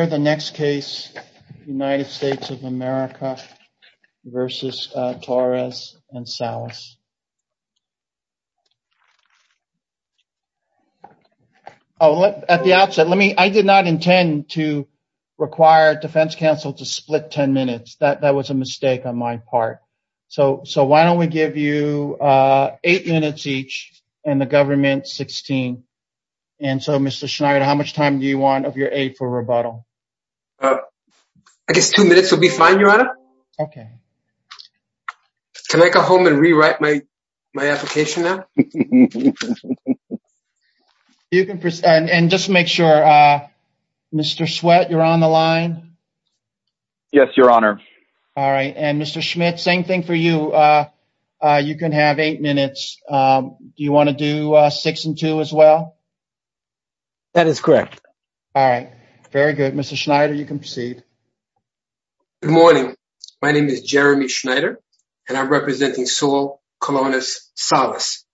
Where the next case United States of America versus Torres and Salas at the outset let me I did not intend to require defense counsel to split 10 minutes that that was a mistake on my part so so why don't we give you eight minutes each and the government 16 and so Mr. Schneider how much time do you want of your aid for rebuttal I guess two minutes will be fine your honor okay can I go home and rewrite my my application now you can press and just make sure mr. sweat you're on the line yes your honor all right and mr. Schmidt same thing for you you can have eight minutes do you want to do six and two as well that is correct all right very good mr. Schneider you can proceed good morning my name is Jeremy Schneider and I'm representing soul colonists solace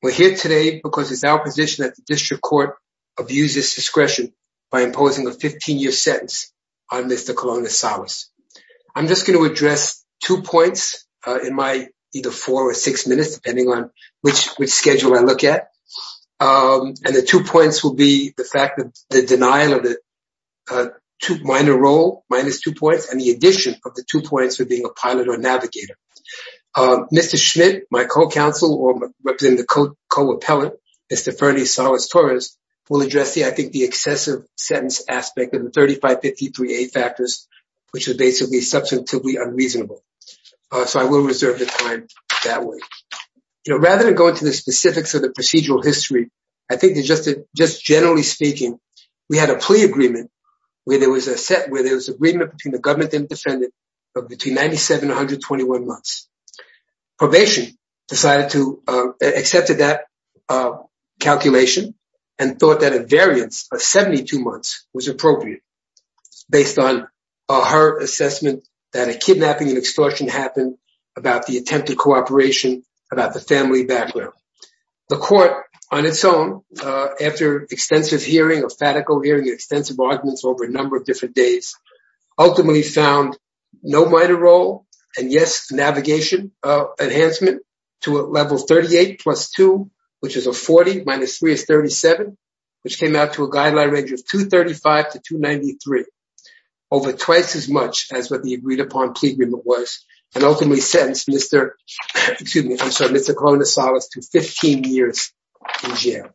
we're here today because it's our position that the district court abuses discretion by imposing a 15-year sentence on mr. colonists Alice I'm just going to address two points in my either four or six minutes depending on which which schedule I look at and the two points will be the fact that the denial of the two minor role minus two points and the addition of the two points for being a pilot or navigator mr. Schmidt my co-counsel or representing the coat co-appellant mr. Ferny Salas Torres will address the I think the excessive sentence aspect of the 3553 a factors which is basically substantively unreasonable so I will reserve the time that way you know rather than go into the specifics of the procedural history I think they just did just generally speaking we had a plea agreement where there was a set where there was agreement between the government and defendant between 97 121 months probation decided to accept that calculation and thought that a variance of 72 months was appropriate based on her assessment that a kidnapping and extortion happened about the attempted cooperation about the family background the court on its own after extensive hearing a fatical hearing extensive arguments over a number of different days ultimately found no minor role and yes navigation of enhancement to a level 38 plus 2 which is a 40 minus 3 is 37 which came out to a guideline range of 235 to 293 over twice as much as what the agreed-upon plea agreement was and ultimately sentenced mr. excuse me mr. colonist solace to 15 years in jail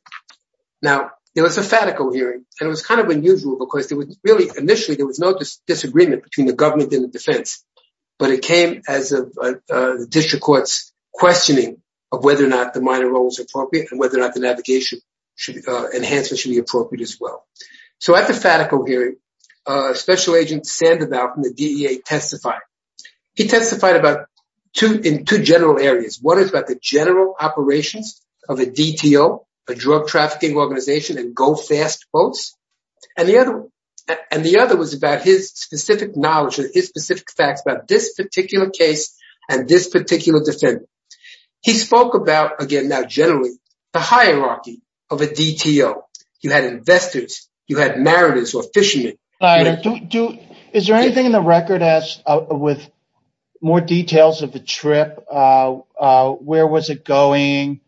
now it was a fatical hearing and it was kind of unusual because there was really initially there was no disagreement between the government in the defense but it came as a district courts questioning of whether or not the minor roles appropriate and whether or not the navigation should enhance it should be appropriate as well so at the fatical hearing special agent sand about from the DEA testified he testified about two in two general areas what is about the general operations of a DTO a drug trafficking organization and go fast boats and the other and the other was about his specific knowledge of his specific facts about this particular case and this particular defendant he spoke about again now generally the hierarchy of a DTO you had investors you had mariners or fishermen do is there anything in the record as with more details of the trip where was it going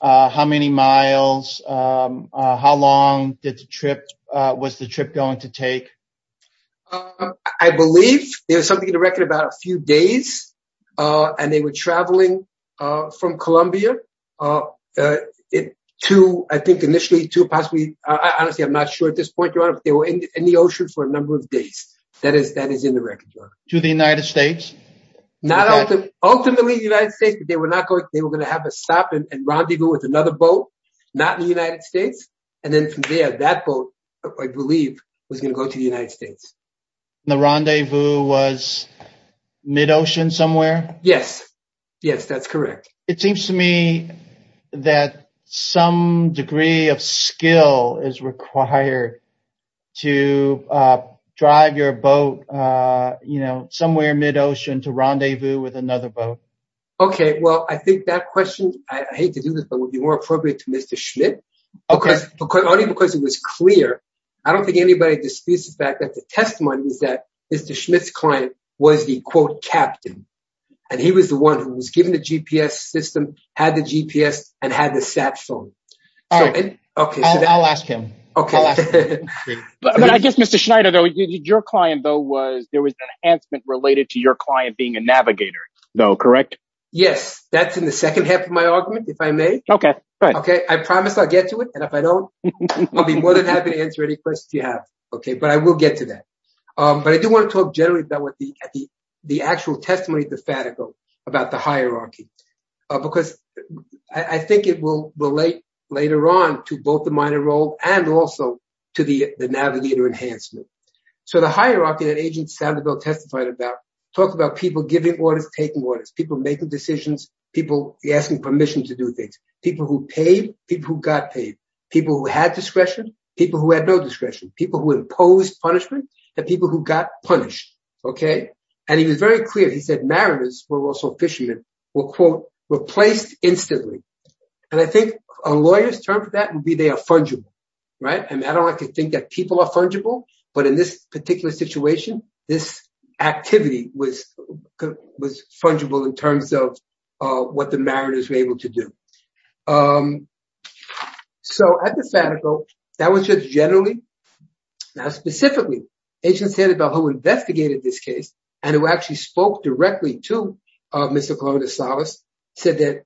how many miles how long did the trip was the trip going to take I believe there's something in the record about a few days and they were traveling from Columbia it to I think initially to possibly I honestly I'm not sure at this point you're in the ocean for a number of days that is that is in the record to the United States not ultimately the United States but they were not going they were going to have a stop and rendezvous with another boat not in the United States and then from there that boat I believe was going to go to the United States the rendezvous was mid-ocean somewhere yes yes that's correct it seems to me that some degree of skill is required to drive your boat you know somewhere mid-ocean to rendezvous with another boat okay well I think that question I hate to do this but would be more appropriate to Mr. Schmidt okay because only because it was clear I don't think anybody disputes the fact that the testimony is that Mr. Schmidt's client was the quote captain and he was the one who was given the GPS system had the GPS and had the sat phone all right okay I'll ask him okay but I guess Mr. Schneider though your client though was there was an enhancement related to your client being a navigator though correct yes that's in the second half of my argument if I may okay okay I promise I'll get to it and if I don't I'll be more than happy to answer any questions you have okay but I will get to that but I do want to talk generally about what the the actual testimony of the Fatico about the hierarchy because I think it will relate later on to both the minor role and also to the the navigator enhancement so the hierarchy that agent Sandoval testified about talk about people giving orders taking orders people making decisions people asking permission to do things people who paid people who got paid people who had discretion people who had no discretion people who imposed punishment and people who got punished okay and he was very clear he said mariners were also fishermen were quote replaced instantly and I think a lawyer's term for that would be they are fungible right and I don't like to think that this activity was was fungible in terms of what the mariners were able to do so at the Fatico that was just generally now specifically agents said about who investigated this case and who actually spoke directly to Mr. Colonisalis said that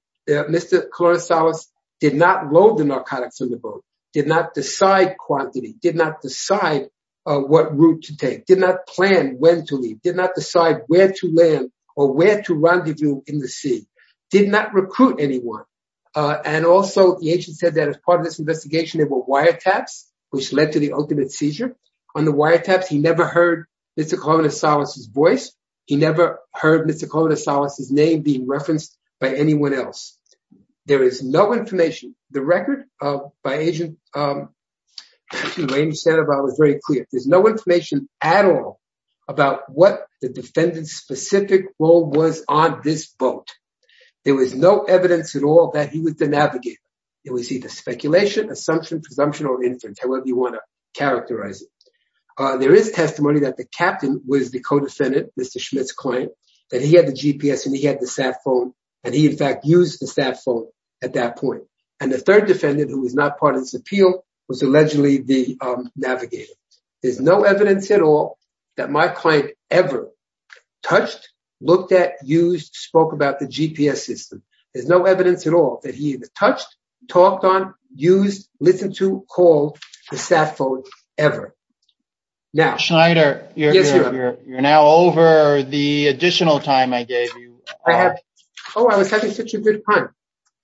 Mr. Colonisalis did not load the narcotics on the boat did not decide quantity did not decide what route to take did not plan when to leave did not decide where to land or where to rendezvous in the sea did not recruit anyone and also the agent said that as part of this investigation there were wire taps which led to the ultimate seizure on the wire taps he never heard Mr. Colonisalis' voice he never heard Mr. Colonisalis' name being referenced by anyone else there is no information the record by agent Raymond Sandoval was very clear there's no information at all about what the defendant's specific role was on this boat there was no evidence at all that he was the navigator it was either speculation assumption presumption or inference however you want to characterize it there is testimony that the captain was the co-defendant Mr. Schmidt's client that he had the GPS and he had the sat phone and he in fact used the sat phone at that point and the third defendant who was not part of this appeal was allegedly the navigator there's no evidence at all that my client ever touched looked at used spoke about the GPS system there's no evidence at all that he touched talked on used listened to called the sat phone ever now Schneider you're you're now over the additional time I gave you I have oh I was having such a good time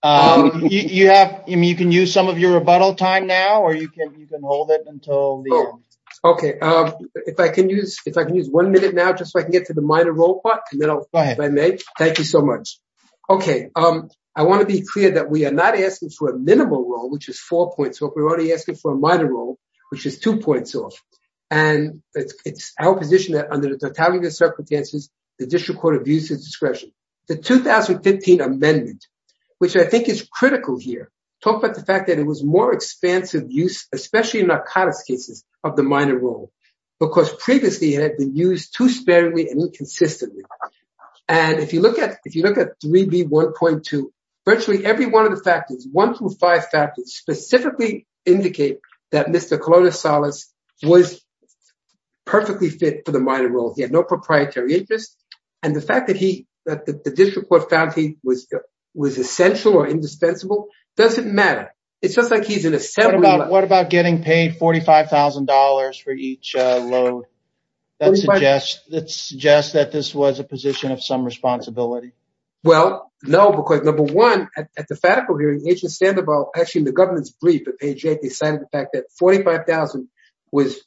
um you have I mean you can use some of your rebuttal time now or you can you can hold it until the end okay um if I can use if I can use one minute now just so I can get to the minor role part and then I'll go ahead if I may thank you so much okay um I want to be clear that we are not asking for a minimal role which is four points so if we're only asking for a minor role which is two points off and it's it's our position that under the totality of circumstances the district discretion the 2015 amendment which I think is critical here talk about the fact that it was more expansive use especially in narcotics cases of the minor role because previously it had been used too sparingly and inconsistently and if you look at if you look at 3b 1.2 virtually every one of the factors one through five factors specifically indicate that Mr. Colonial Solace was perfectly fit for the minor role he had no proprietary interest and the fact that he that the district court found he was was essential or indispensable doesn't matter it's just like he's an assembly what about getting paid forty five thousand dollars for each load that suggests that suggests that this was a position of some responsibility well no because number one at the federal hearing agent stand about actually in the government's brief at page eight they cited the fact that forty five thousand was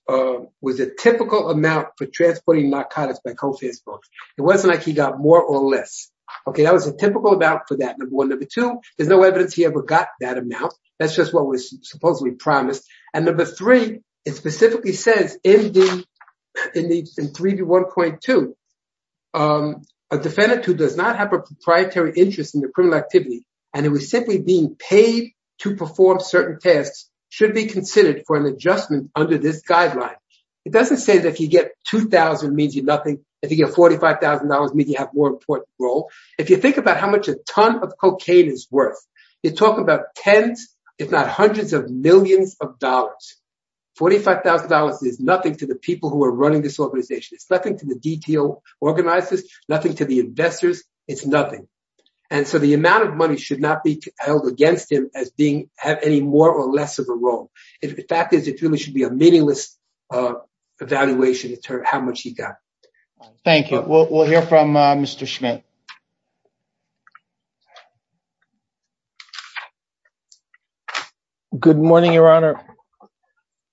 was a typical amount for transporting narcotics by co-fans folks it wasn't like he got more or less okay that was a typical amount for that number one number two there's no evidence he ever got that amount that's just what was supposedly promised and number three it specifically says in the in the in 3b 1.2 a defendant who does not have a proprietary interest in the criminal activity and it was simply being paid to perform certain tasks should be considered for an adjustment under this guideline it doesn't say that if you get two thousand means you nothing if you get forty five thousand dollars means you have more important role if you think about how much a ton of cocaine is worth you talk about tens if not hundreds of millions of dollars forty five thousand dollars is nothing to the people who are running this organization it's nothing to the detail organizers nothing to the investors it's nothing and so the if the fact is it really should be a meaningless evaluation to determine how much he got thank you we'll hear from uh mr schmitt good morning your honor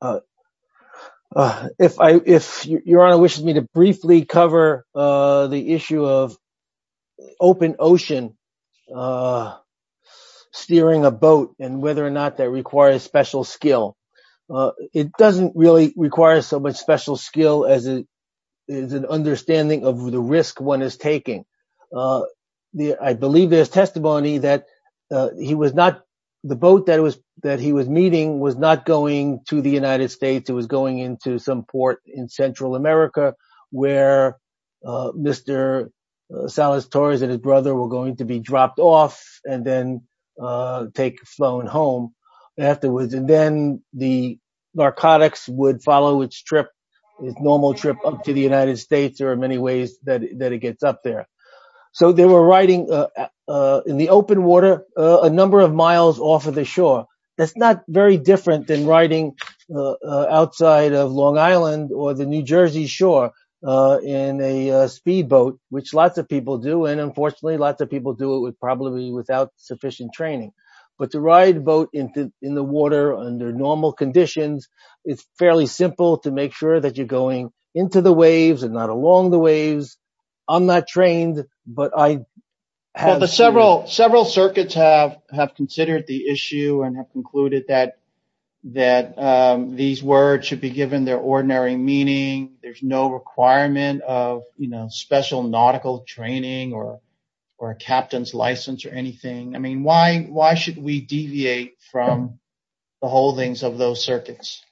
uh uh if i if your honor wishes me to briefly cover uh the issue of special skill uh it doesn't really require so much special skill as it is an understanding of the risk one is taking uh the i believe there's testimony that uh he was not the boat that was that he was meeting was not going to the united states it was going into some port in central america where uh mr salas torres and his brother were going to be dropped off and then uh take flown home afterwards and then the narcotics would follow its trip its normal trip up to the united states there are many ways that that it gets up there so they were riding uh uh in the open water a number of miles off of the shore that's not very different than riding outside of long island or the new jersey shore uh in a speed boat which lots of people do and unfortunately lots of people do it would probably be without sufficient training but to ride boat into in the water under normal conditions it's fairly simple to make sure that you're going into the waves and not along the waves i'm not trained but i have several several circuits have have considered the issue and have concluded that that um these words should be given their ordinary meaning there's no requirement of you know special nautical training or or a captain's license or anything i mean why why should we deviate from the holdings of those circuits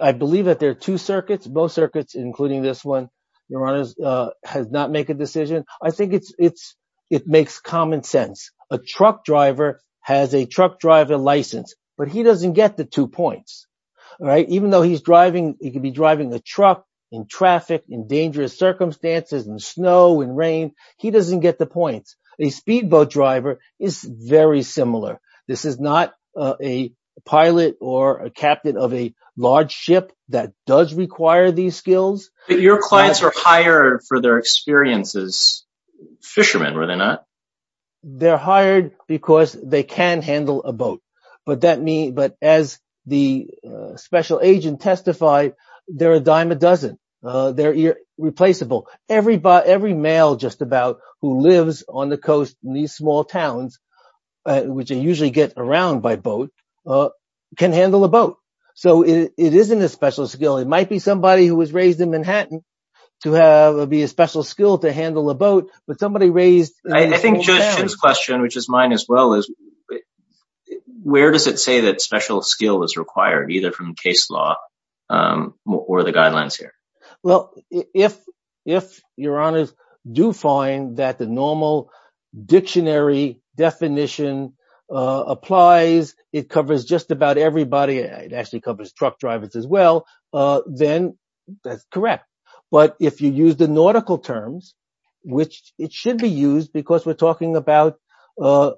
i believe that there are two circuits both circuits including this one your honors uh has not make a decision i think it's it's it makes common sense a truck driver has a truck driver license but he doesn't get the two points all right even though he's driving he could be driving a truck in traffic in dangerous circumstances and snow and rain he doesn't get the points a speedboat driver is very similar this is not a pilot or a captain of a large ship that does require these skills but your clients are hired for their experiences fishermen were they not they're hired because they can handle a boat but that me but as the special agent testified they're a dime a dozen they're irreplaceable everybody every male just about who lives on the coast in these small towns which they usually get around by boat uh can handle a boat so it isn't a special skill it might be somebody who was raised in manhattan to have be a special skill to handle a boat but but where does it say that special skill is required either from case law um or the guidelines here well if if your honors do find that the normal dictionary definition uh applies it covers just about everybody it actually covers truck drivers as well uh then that's correct but if use the nautical terms which it should be used because we're talking about uh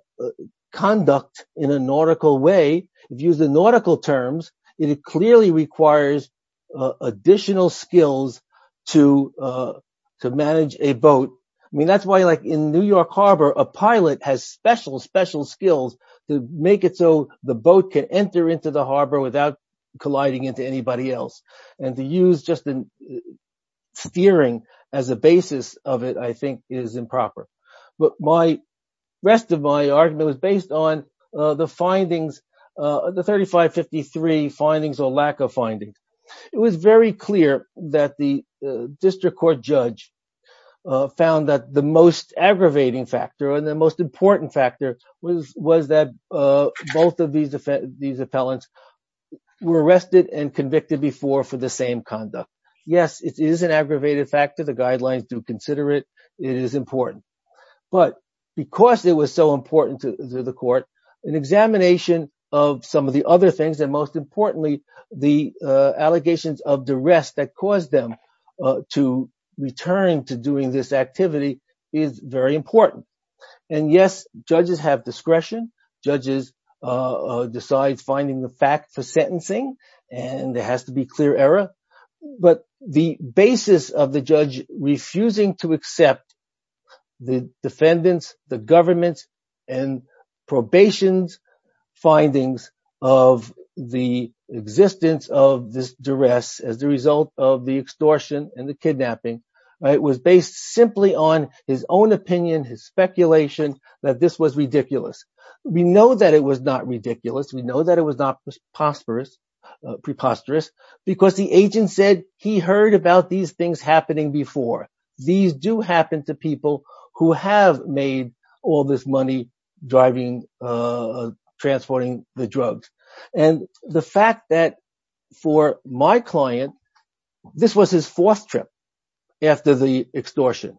conduct in a nautical way if you use the nautical terms it clearly requires uh additional skills to uh to manage a boat i mean that's why like in new york harbor a pilot has special special skills to make it so the boat can enter into the harbor without colliding into anybody else and to use just in fearing as a basis of it i think is improper but my rest of my argument was based on uh the findings uh the 35 53 findings or lack of findings it was very clear that the district court judge uh found that the most aggravating factor and the most important factor was was that both of these these appellants were arrested and convicted before for the same conduct yes it is an aggravated factor the guidelines do consider it it is important but because it was so important to the court an examination of some of the other things and most importantly the uh allegations of the rest that caused them to return to doing this activity is very important and yes judges have discretion judges uh decide finding the fact for sentencing and there has to be clear error but the basis of the judge refusing to accept the defendants the government's and probation's findings of the existence of this duress as the result of the extortion and the was ridiculous we know that it was not ridiculous we know that it was not prosperous preposterous because the agent said he heard about these things happening before these do happen to people who have made all this money driving uh transporting the drugs and the fact that for my client this was his fourth trip after the extortion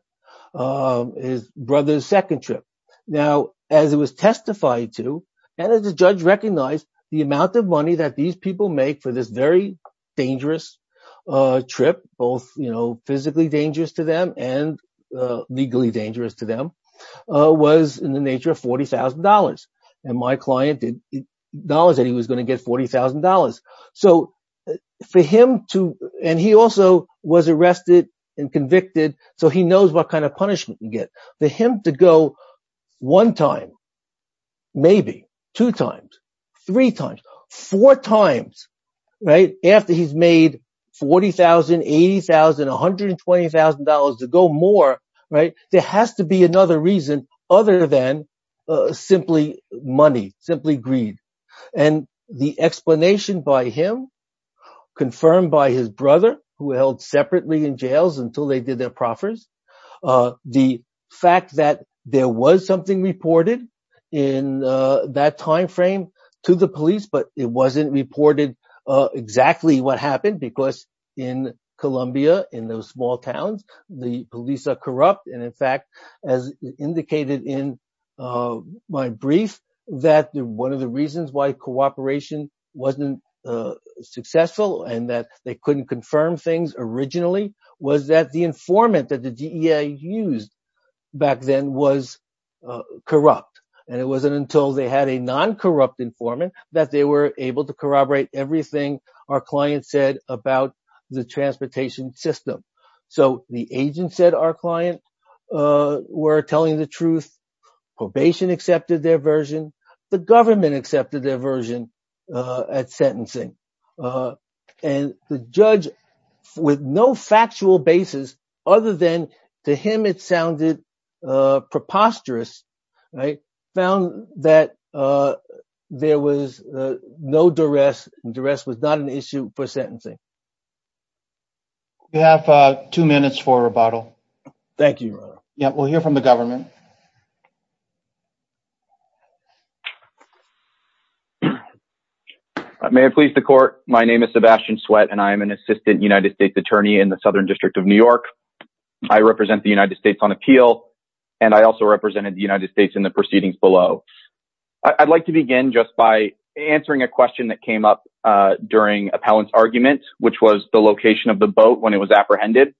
um his brother's second trip now as it was testified to and as the judge recognized the amount of money that these people make for this very dangerous uh trip both you know physically dangerous to them and legally dangerous to them uh was in the nature of forty thousand dollars and my client did dollars that he was going to get forty thousand dollars so for him to and he also was arrested and convicted so he knows what kind of punishment you get for him to go one time maybe two times three times four times right after he's made forty thousand eighty thousand one hundred and twenty thousand dollars to go more right there has to be another reason other than uh simply money simply greed and the explanation by him confirmed by his brother who held separately in jails until they did their proffers uh the fact that there was something reported in uh that time frame to the police but it wasn't reported uh exactly what happened because in columbia in those small towns the police are corrupt and in fact as indicated in uh my brief that one of the reasons why cooperation wasn't uh successful and that they couldn't confirm things originally was that the informant that the dea used back then was uh corrupt and it wasn't until they had a non-corrupt informant that they were able to corroborate everything our client said about the transportation system so the agent said our client uh were telling the truth probation accepted their version the government accepted their version uh at sentencing uh and the judge with no factual basis other than to him it sounded uh preposterous i found that uh there was uh no duress duress was not an issue for sentencing you have uh two minutes for rebuttal thank you yeah we'll hear from the government i may have pleased the court my name is sebastian sweat and i am an assistant united states attorney in the southern district of new york i represent the united states on appeal and i also represented the united states in the proceedings below i'd like to begin just by answering a question that came up uh during appellant's argument which was the location of the boat when it was apprehended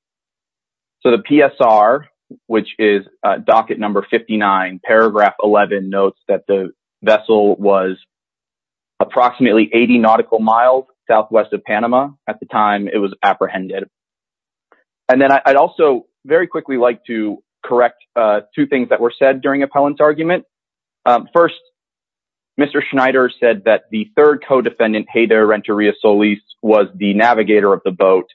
so the psr which is docket number 59 paragraph 11 notes that the vessel was approximately 80 nautical miles southwest of panama at the time it was apprehended and then i'd also very quickly like to correct uh two things that were said during appellant's argument um first mr schneider said that the third co-defendant hey there renteria solis was the navigator of the boat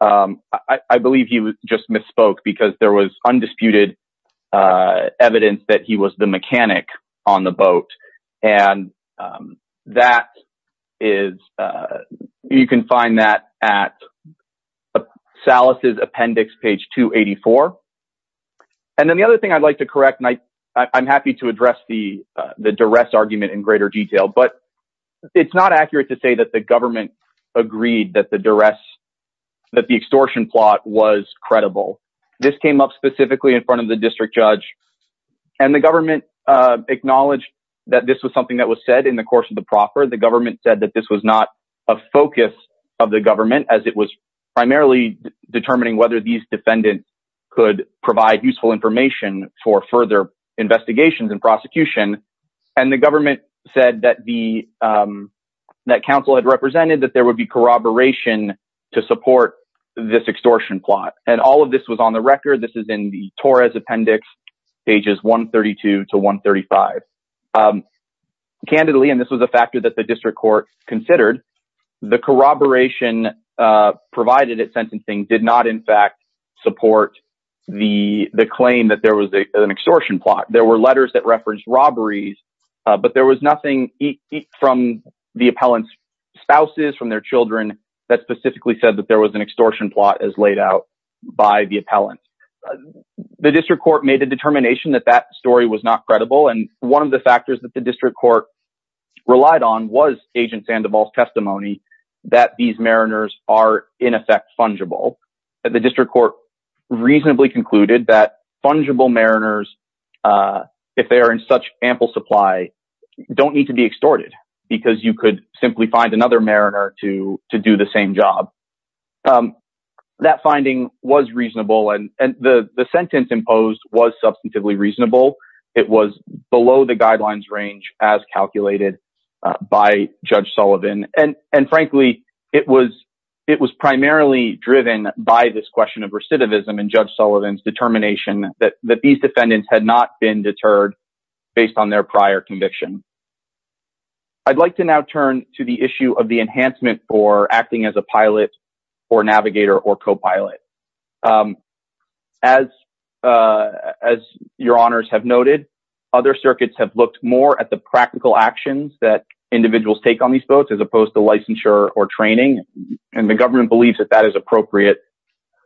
um i i believe he just misspoke because there was undisputed uh evidence that he was the mechanic on the boat and um that is uh you can find that at salas's appendix page 284 and then the other thing i'd like to correct and i i'm happy to address the uh the duress argument in greater detail but it's not accurate to say that the government agreed that the duress that the extortion plot was credible this came up specifically in front of the district judge and the government uh acknowledged that this was something that was said in the course of the proffer the government said that this was not a focus of the government as it was primarily determining whether these defendants could provide useful information for further investigations and prosecution and the government said that the um that council had represented that there would be corroboration to support this extortion plot and all of this was on the record this is in the torres appendix pages 132 to 135 um candidly and this was a factor that the district court considered the corroboration uh provided at sentencing did not in fact support the the claim that there was an extortion plot there were letters that referenced robberies but there was nothing from the appellant's spouses from their children that specifically said that there was an extortion plot as laid out by the appellant the district court made the determination that that story was not credible and one of the factors that the district court relied on was agent sandoval's testimony that these mariners are in effect fungible the district court reasonably concluded that fungible mariners if they are in such ample supply don't need to be extorted because you could simply find another mariner to to do the same job um that finding was reasonable and and the the sentence imposed was substantively reasonable it was below the guidelines range as calculated by judge sullivan and and frankly it was it was primarily driven by this question of recidivism and judge sullivan's determination that that these defendants had not been deterred based on their prior conviction i'd like to now turn to the issue of the enhancement for acting as a pilot or navigator or co-pilot as uh as your honors have noted other circuits have looked more at the practical actions that individuals take on these boats as opposed to licensure or training and the government believes that that is appropriate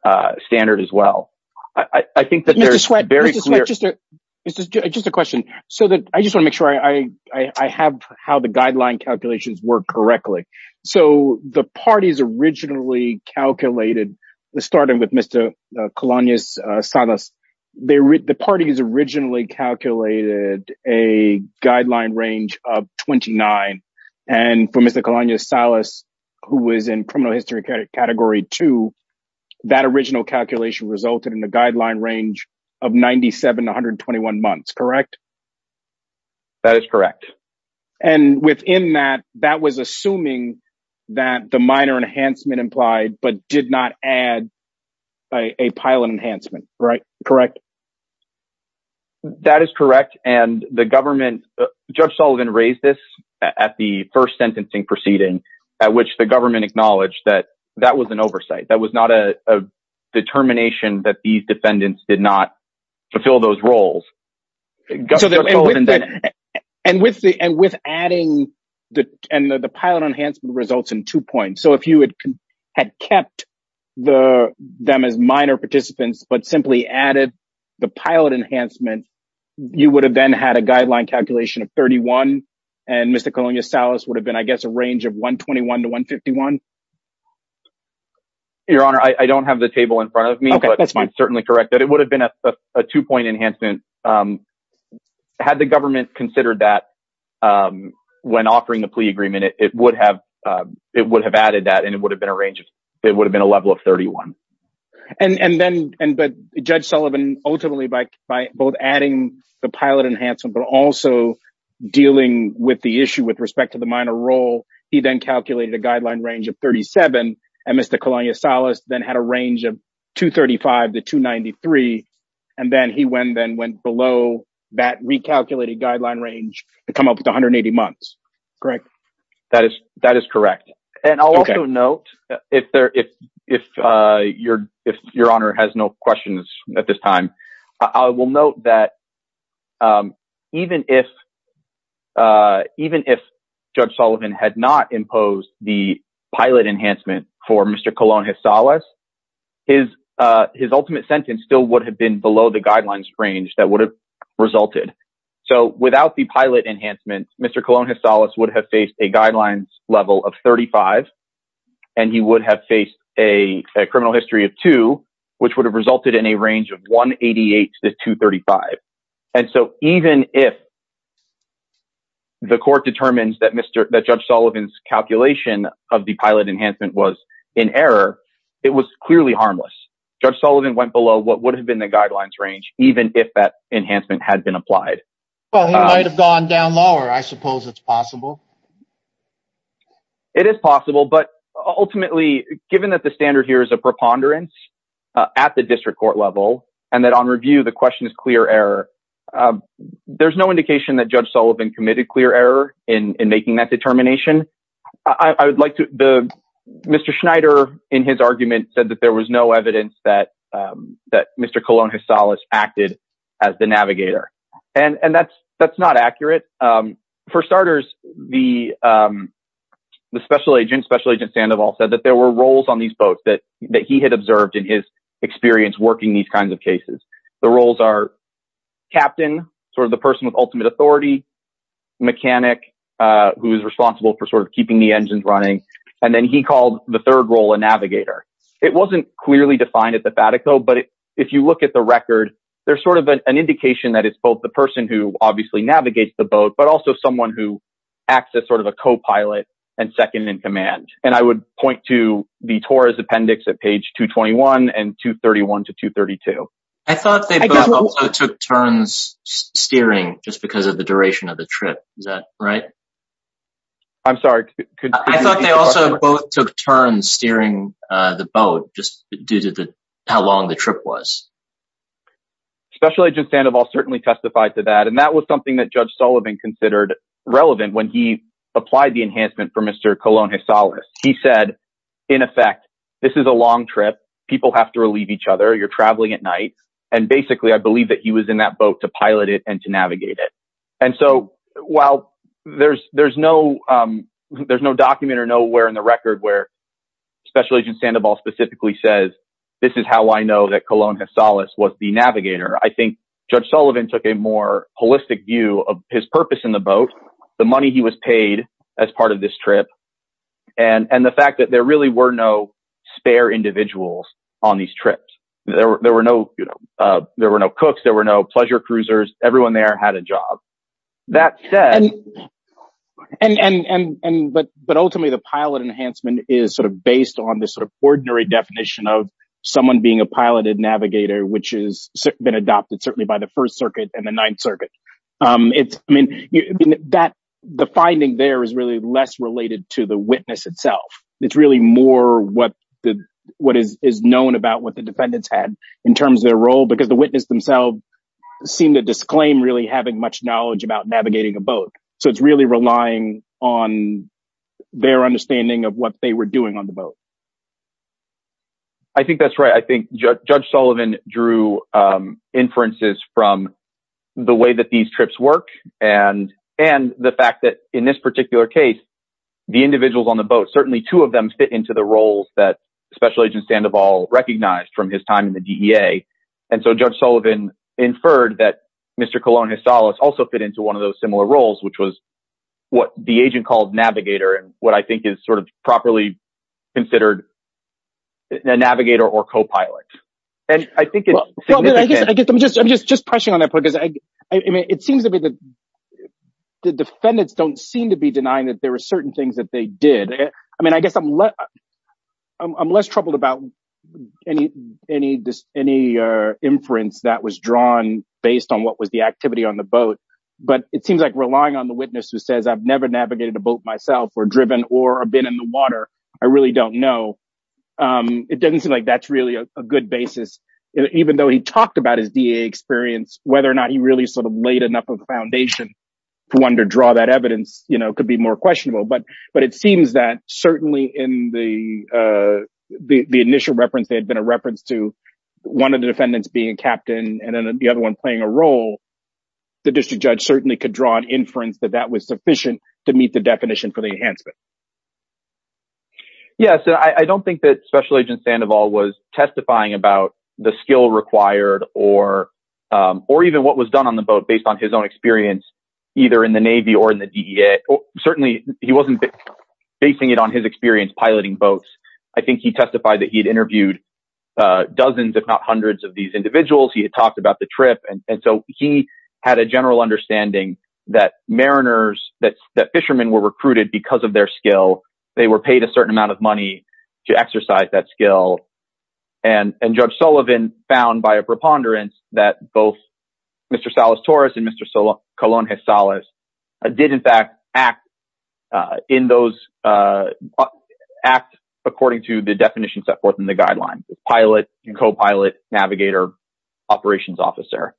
uh standard as well i i think that there's very clear just just a question so that i just want to make sure i i i have how the guideline calculations work correctly so the party's originally calculated starting with mr colonias salas they the party has originally calculated a guideline range of 29 and for mr colonia salas who was in criminal history category two that original calculation resulted in the guideline range of 97 121 months correct that is correct and within that that was assuming that the minor enhancement implied but did not add a pilot enhancement right correct that is correct and the government judge sullivan raised at the first sentencing proceeding at which the government acknowledged that that was an oversight that was not a determination that these defendants did not fulfill those roles and with the and with adding the and the pilot enhancement results in two points so if you had had kept the them as minor participants but simply added the pilot enhancement you would have then had a guideline calculation of 31 and mr colonia salas would have been i guess a range of 121 to 151 your honor i don't have the table in front of me okay that's fine certainly correct that it would have been a two-point enhancement um had the government considered that um when offering the plea agreement it would have um it would have added that and it would have been a range it would have 31 and and then and but judge sullivan ultimately by by both adding the pilot enhancement but also dealing with the issue with respect to the minor role he then calculated a guideline range of 37 and mr colonia salas then had a range of 235 to 293 and then he went then went below that recalculated guideline range to come up with 180 months correct that is that is correct and i'll also note if there if if uh your if your honor has no questions at this time i will note that um even if uh even if judge sullivan had not imposed the pilot enhancement for mr colonia salas his uh his ultimate sentence still would have been below the guidelines range that would have resulted so without the pilot enhancement mr colonia salas would have faced a guidelines level of 35 and he would have faced a criminal history of two which would have resulted in a range of 188 to 235 and so even if the court determines that mr that judge sullivan's calculation of the pilot enhancement was in error it was clearly harmless judge sullivan went below what would have been the guidelines range even if that enhancement had been applied well he might it is possible but ultimately given that the standard here is a preponderance at the district court level and that on review the question is clear error there's no indication that judge sullivan committed clear error in in making that determination i i would like to the mr schneider in his argument said that there was no evidence that um that the special agent special agent sandoval said that there were roles on these boats that that he had observed in his experience working these kinds of cases the roles are captain sort of the person with ultimate authority mechanic uh who is responsible for sort of keeping the engines running and then he called the third role a navigator it wasn't clearly defined at the batik though but if you look at the record there's sort of an indication that it's both the person who obviously navigates the boat but also someone who acts as sort of a co-pilot and second in command and i would point to the torah's appendix at page 221 and 231 to 232 i thought they took turns steering just because of the duration of the trip is that right i'm sorry i thought they also both took turns steering uh the boat just due to the how long the trip was special agent sandoval certainly testified to that and that was something that judge sullivan considered relevant when he applied the enhancement for mr cologne his solace he said in effect this is a long trip people have to relieve each other you're traveling at night and basically i believe that he was in that boat to pilot it and to navigate it and so while there's there's no um there's no document or nowhere in the record where special agent sandoval specifically says this is how i know that cologne has solace was the navigator i think judge sullivan took a more holistic view of his purpose in the boat the money he was paid as part of this trip and and the fact that there really were no spare individuals on these trips there were no you know uh there were no cooks there were no pleasure cruisers everyone there had a job that said and and and and but but ultimately the pilot enhancement is sort of based on this sort of ordinary definition of someone being a piloted navigator which has been adopted certainly by the first circuit and the ninth circuit um it's i mean that the finding there is really less related to the witness itself it's really more what the what is is known about what the defendants had in terms of their role because the witness themselves seem to disclaim really having much knowledge about navigating a boat so it's really relying on their understanding of what they were doing on the boat i think that's right i think judge sullivan drew um inferences from the way that these trips work and and the fact that in this particular case the individuals on the boat certainly two of them fit into the roles that special agent sandoval recognized from his time in the dea and so judge sullivan inferred that mr cologne his solace also fit into one of those similar roles which was what the agent called navigator and what i think is sort of properly considered a navigator or co-pilot and i think i guess i guess i'm just i'm just just pressing on that point because i i mean it seems to be the the defendants don't seem to be denying that there were certain things that they did i mean i guess i'm less i'm less troubled about any any this any uh inference that was drawn based on what was the activity on the boat but it seems like relying on the witness who says i've never navigated a boat myself or driven or been in the water i really don't know um it doesn't seem like that's really a good basis even though he talked about his da experience whether or not he really sort of laid enough of a foundation for one to draw that evidence you know could be more questionable but but it seems that certainly in the uh the initial reference there had been a reference to one of the defendants being captain and then the other one playing a role the district judge certainly could draw an inference that that was sufficient to meet the definition for the enhancement yeah so i i don't think that special agent sandoval was testifying about the skill required or um or even what was done on the boat based on his own experience either in the navy or in the dea certainly he wasn't basing it on his experience piloting boats i think he testified that he had interviewed uh dozens if not hundreds of these individuals he had talked about the trip and so he had a general understanding that mariners that fishermen were recruited because of their skill they were paid a certain amount of money to exercise that skill and and judge sullivan found by a preponderance that both mr salas torres and mr solon colón has solace i did in fact act uh in those uh act according to the definitions set forth in the guideline pilot and co-pilot navigator operations officer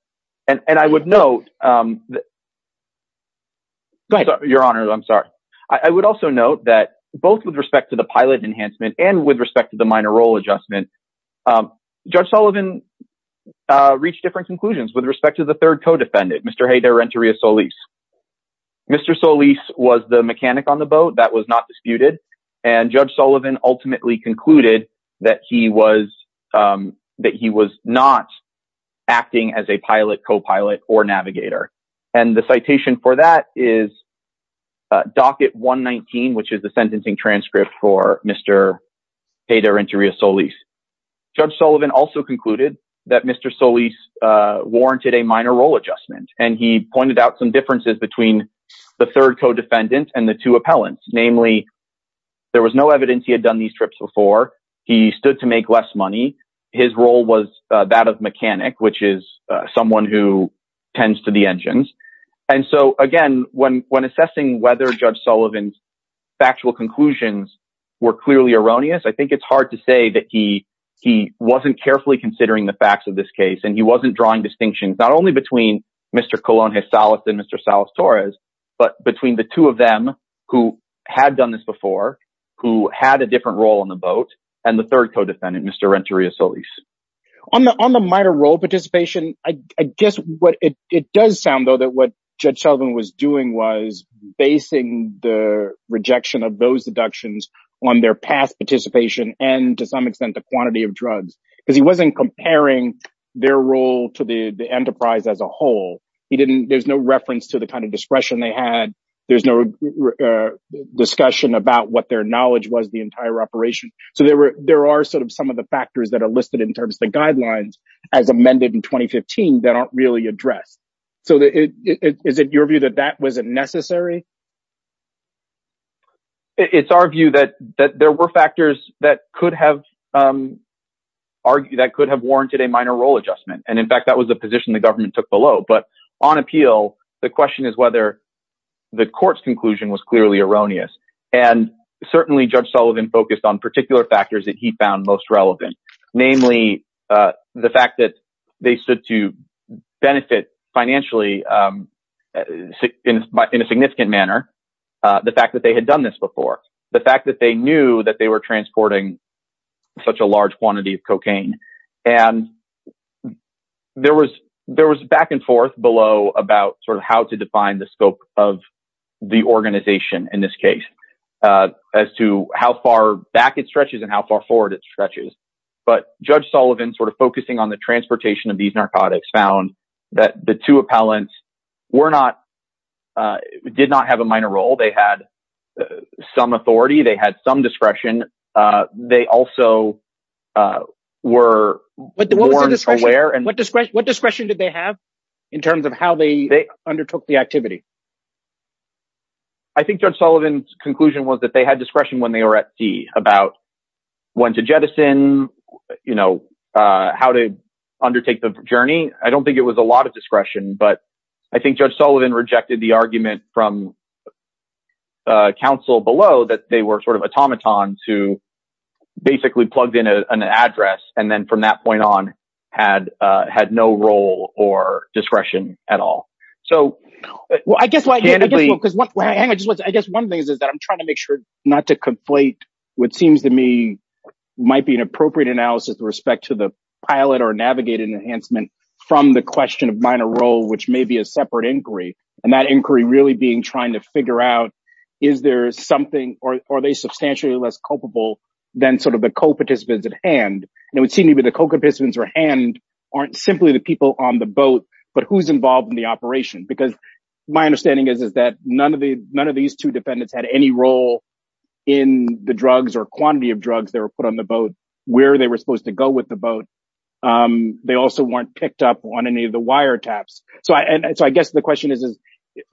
and and i would note um go ahead your honor i'm sorry i would also note that both with respect to the pilot enhancement and with respect to the minor role adjustment um judge sullivan uh reached different conclusions with respect to the third co-defendant mr hey their entry is solis mr solis was the mechanic on the boat that was not disputed and judge sullivan ultimately concluded that he was um he was not acting as a pilot co-pilot or navigator and the citation for that is docket 119 which is the sentencing transcript for mr hater interior solis judge sullivan also concluded that mr solis uh warranted a minor role adjustment and he pointed out some differences between the third co-defendant and the two appellants namely there was no evidence he trips before he stood to make less money his role was that of mechanic which is someone who tends to the engines and so again when when assessing whether judge sullivan's factual conclusions were clearly erroneous i think it's hard to say that he he wasn't carefully considering the facts of this case and he wasn't drawing distinctions not only between mr colón has solace and mr solis torres but between the two of them who had done this before who had a different role on the boat and the third co-defendant mr renteria solis on the on the minor role participation i i guess what it it does sound though that what judge sullivan was doing was basing the rejection of those deductions on their past participation and to some extent the quantity of drugs because he wasn't comparing their role to the the enterprise as a whole he didn't there's no reference to the kind of discretion they had there's no discussion about what their knowledge was the entire operation so there were there are sort of some of the factors that are listed in terms of the guidelines as amended in 2015 that aren't really addressed so that it is it your view that that wasn't necessary it's our view that that there were factors that could have argued that could have warranted a minor role adjustment and in fact that was the position the government took below but on appeal the question is whether the court's conclusion was clearly erroneous and certainly judge sullivan focused on particular factors that he found most relevant namely the fact that they stood to benefit financially in in a significant manner the fact that they had done this before the fact that they knew that they were transporting such a large quantity of cocaine and there was there was back and forth below about sort of how to define the scope of the organization in this case as to how far back it stretches and how far forward it stretches but judge sullivan sort of focusing on the transportation of these narcotics found that the two appellants were not did not have a minor role they had some authority they had some discretion they also were more aware and what discretion did they have in terms of how they undertook the activity i think judge sullivan's conclusion was that they had discretion when they were at sea about when to jettison you know uh how to undertake the journey i don't think it was a lot of discretion but i think judge sullivan rejected the argument from uh council below that they were sort of automatons who basically plugged in an or discretion at all so well i guess what i guess one thing is is that i'm trying to make sure not to conflate what seems to me might be an appropriate analysis with respect to the pilot or navigated enhancement from the question of minor role which may be a separate inquiry and that inquiry really being trying to figure out is there something or are they substantially less culpable than sort of the co-participants at hand and it would seem either the co-participants or hand aren't simply the people on the boat but who's involved in the operation because my understanding is is that none of the none of these two defendants had any role in the drugs or quantity of drugs that were put on the boat where they were supposed to go with the boat um they also weren't picked up on any of the wire taps so i and so i guess the question is is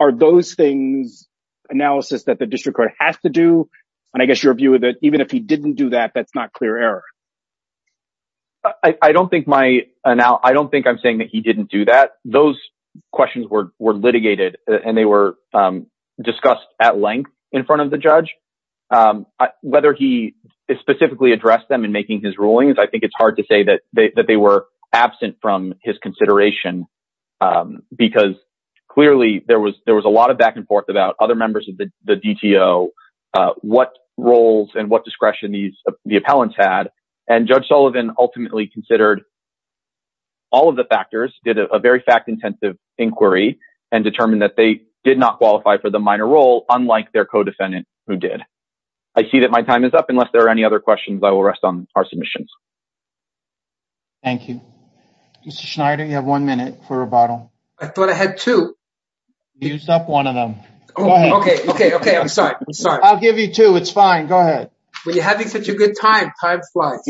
are those things analysis that the district court has to do and i guess your that even if he didn't do that that's not clear error i i don't think my now i don't think i'm saying that he didn't do that those questions were were litigated and they were um discussed at length in front of the judge um whether he specifically addressed them in making his rulings i think it's hard to say that they were absent from his consideration um because clearly there there was a lot of back and forth about other members of the the dto uh what roles and what discretion these the appellants had and judge sullivan ultimately considered all of the factors did a very fact-intensive inquiry and determined that they did not qualify for the minor role unlike their co-defendant who did i see that my time is up unless there are any other questions i will rest on our submissions thank you mr schneider you have one minute for rebuttal i thought i had two use up one of them okay okay okay i'm sorry i'm sorry i'll give you two it's fine go ahead when you're having such a good time time flies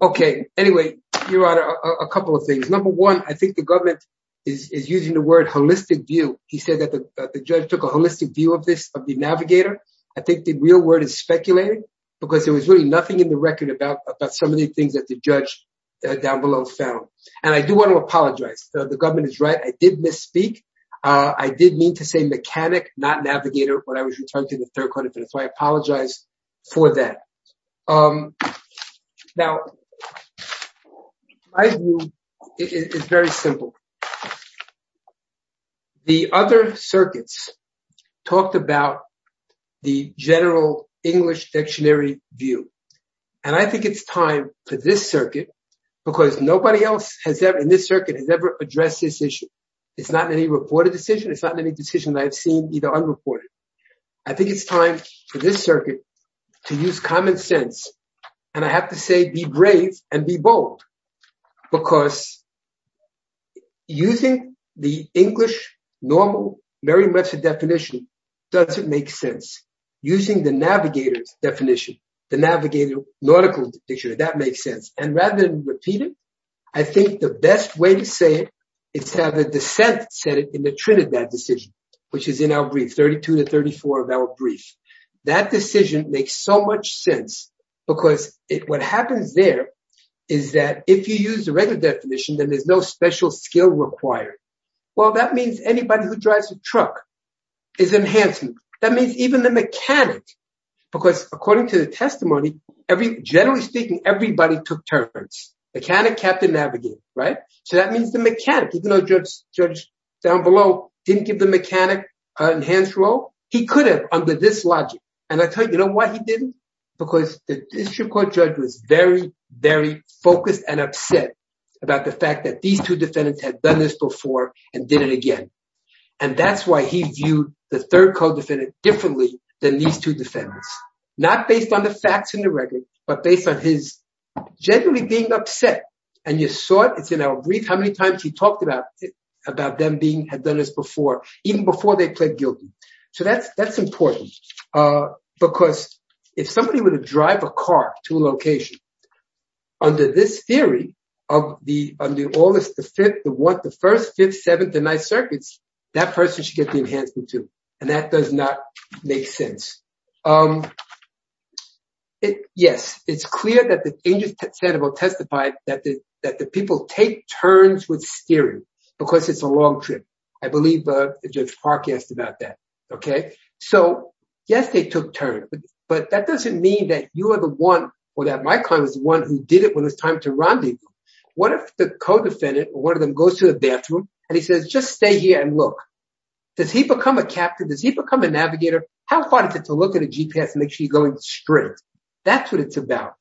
okay anyway your honor a couple of things number one i think the government is is using the word holistic view he said that the judge took a holistic view of this of the navigator i think the real word is speculating because there was really nothing in the record about about some of the things that the judge down below found and i do want to apologize the government is right i did misspeak uh i did mean to say mechanic not navigator when i was returning to the third quarter so i apologize for that um now my view is very simple the other circuits talked about the general english dictionary view and i think it's time for this circuit because nobody else has ever in this circuit has ever addressed this issue it's not in any reported decision it's not in any decision i've seen either unreported i think it's time for this circuit to use common sense and i have to say be brave and be bold because using the english normal very much a definition doesn't make sense using the navigator's definition the navigator nautical dictionary that makes sense and rather than repeat it i think the best way to say it it's how the descent said it in the trinidad decision which is in our brief 32 to 34 of our brief that decision makes so much sense because it what happens there is that if you use the regular definition then there's no special skill required well that means anybody who drives a truck is enhancing that means even the mechanic because according to the testimony every generally speaking everybody took turns mechanic captain navigator right so that means the mechanic even though judge judge down below didn't give the mechanic an enhanced role he could have under this logic and i tell you know why he didn't because the district court judge was very very focused and upset about the fact that these two defendants had done this before and did it again and that's why he viewed the third code defendant differently than these two defendants not based on the facts in the record but based on his generally being upset and you saw it it's in our brief how many times he talked about about them being had done this before even before they pled guilty so that's that's important uh because if somebody were to drive a car to a location under this theory of the under all this the fifth the what the first fifth seventh and ninth circuits that person should get the enhancement too and that does not make sense um it yes it's clear that the angel santo testified that the that the people take turns with steering because it's a long trip i believe uh judge park asked about that okay so yes they took turn but that doesn't mean that you are the one or that my client is the one who did it when it's time to rendezvous what if the co-defendant or one of them goes to the bathroom and he says just stay here and look does he become a captain does he become a navigator how fun is it to look at a gps and make sure you're going straight that's what it's about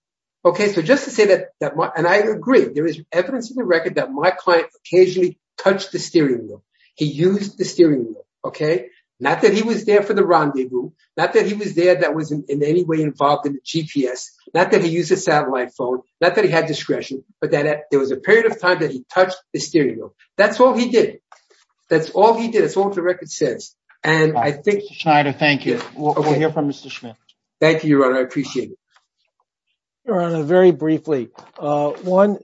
okay so just to say that that and i agree there is evidence in the record that my client occasionally touched the steering wheel he used the steering wheel okay not that he was there for the rendezvous not that he was there that was in any way involved in the gps not that he used a satellite phone not that he had discretion but that there was a period of time that he touched the steering wheel that's all he did that's all he did it's all the record says and i think thank you we'll hear from mr schmidt thank you your honor i appreciate it your honor very briefly uh one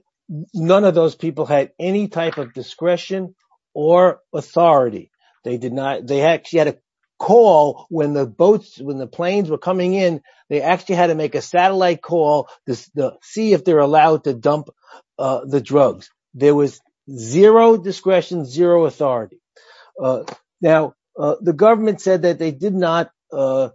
none of those people had any type of discretion or authority they did not they actually had a call when the boats when the planes were coming in they actually had to make a satellite call to see if they're allowed to dump uh the drugs there was zero discretion zero authority now the government said that they did not uh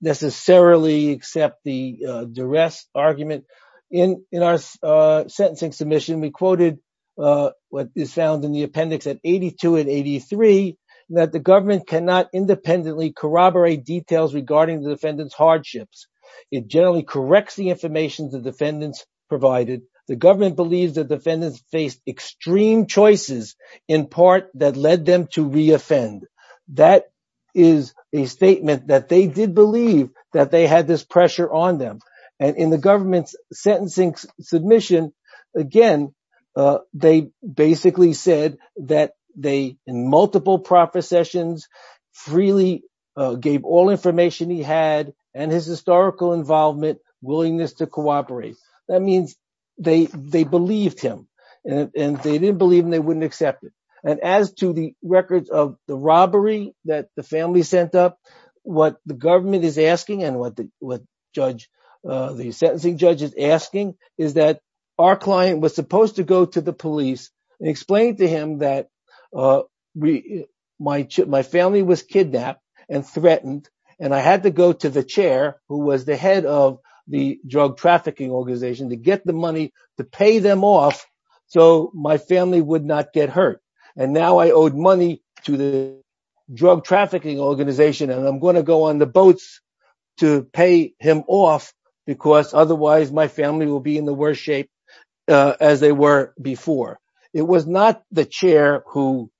necessarily accept the uh duress argument in our uh sentencing submission we quoted uh what is found in the appendix at 82 and 83 that the government cannot independently corroborate details regarding the defendant's hardships it generally corrects the information the defendants provided the government believes that defendants faced extreme choices in part that led them to re-offend that is a statement that they did believe that they had this pressure on them and in the government's sentencing submission again uh they basically said that they in multiple proper sessions freely gave all information he had and his historical involvement willingness to cooperate that means they they believed him and they didn't believe him they wouldn't accept it as to the records of the robbery that the family sent up what the government is asking and what the what judge uh the sentencing judge is asking is that our client was supposed to go to the police and explain to him that uh we my my family was kidnapped and threatened and i had to go to the chair who was the head of the drug trafficking organization to get the money to pay them off so my family would not get hurt and now i owed money to the drug trafficking organization and i'm going to go on the boats to pay him off because otherwise my family will be in the worst shape as they were before it was not the chair who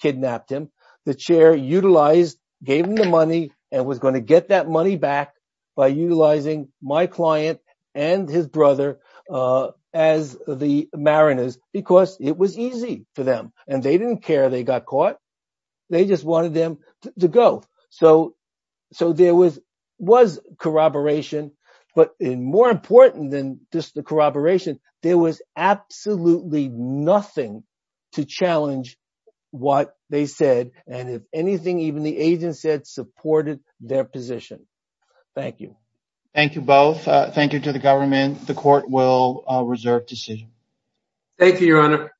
kidnapped him the chair utilized gave him the marinas because it was easy for them and they didn't care they got caught they just wanted them to go so so there was was corroboration but in more important than just the corroboration there was absolutely nothing to challenge what they said and if anything even the agent said supported their position thank you thank you both uh thank you to the government the court will reserve decision thank you your honor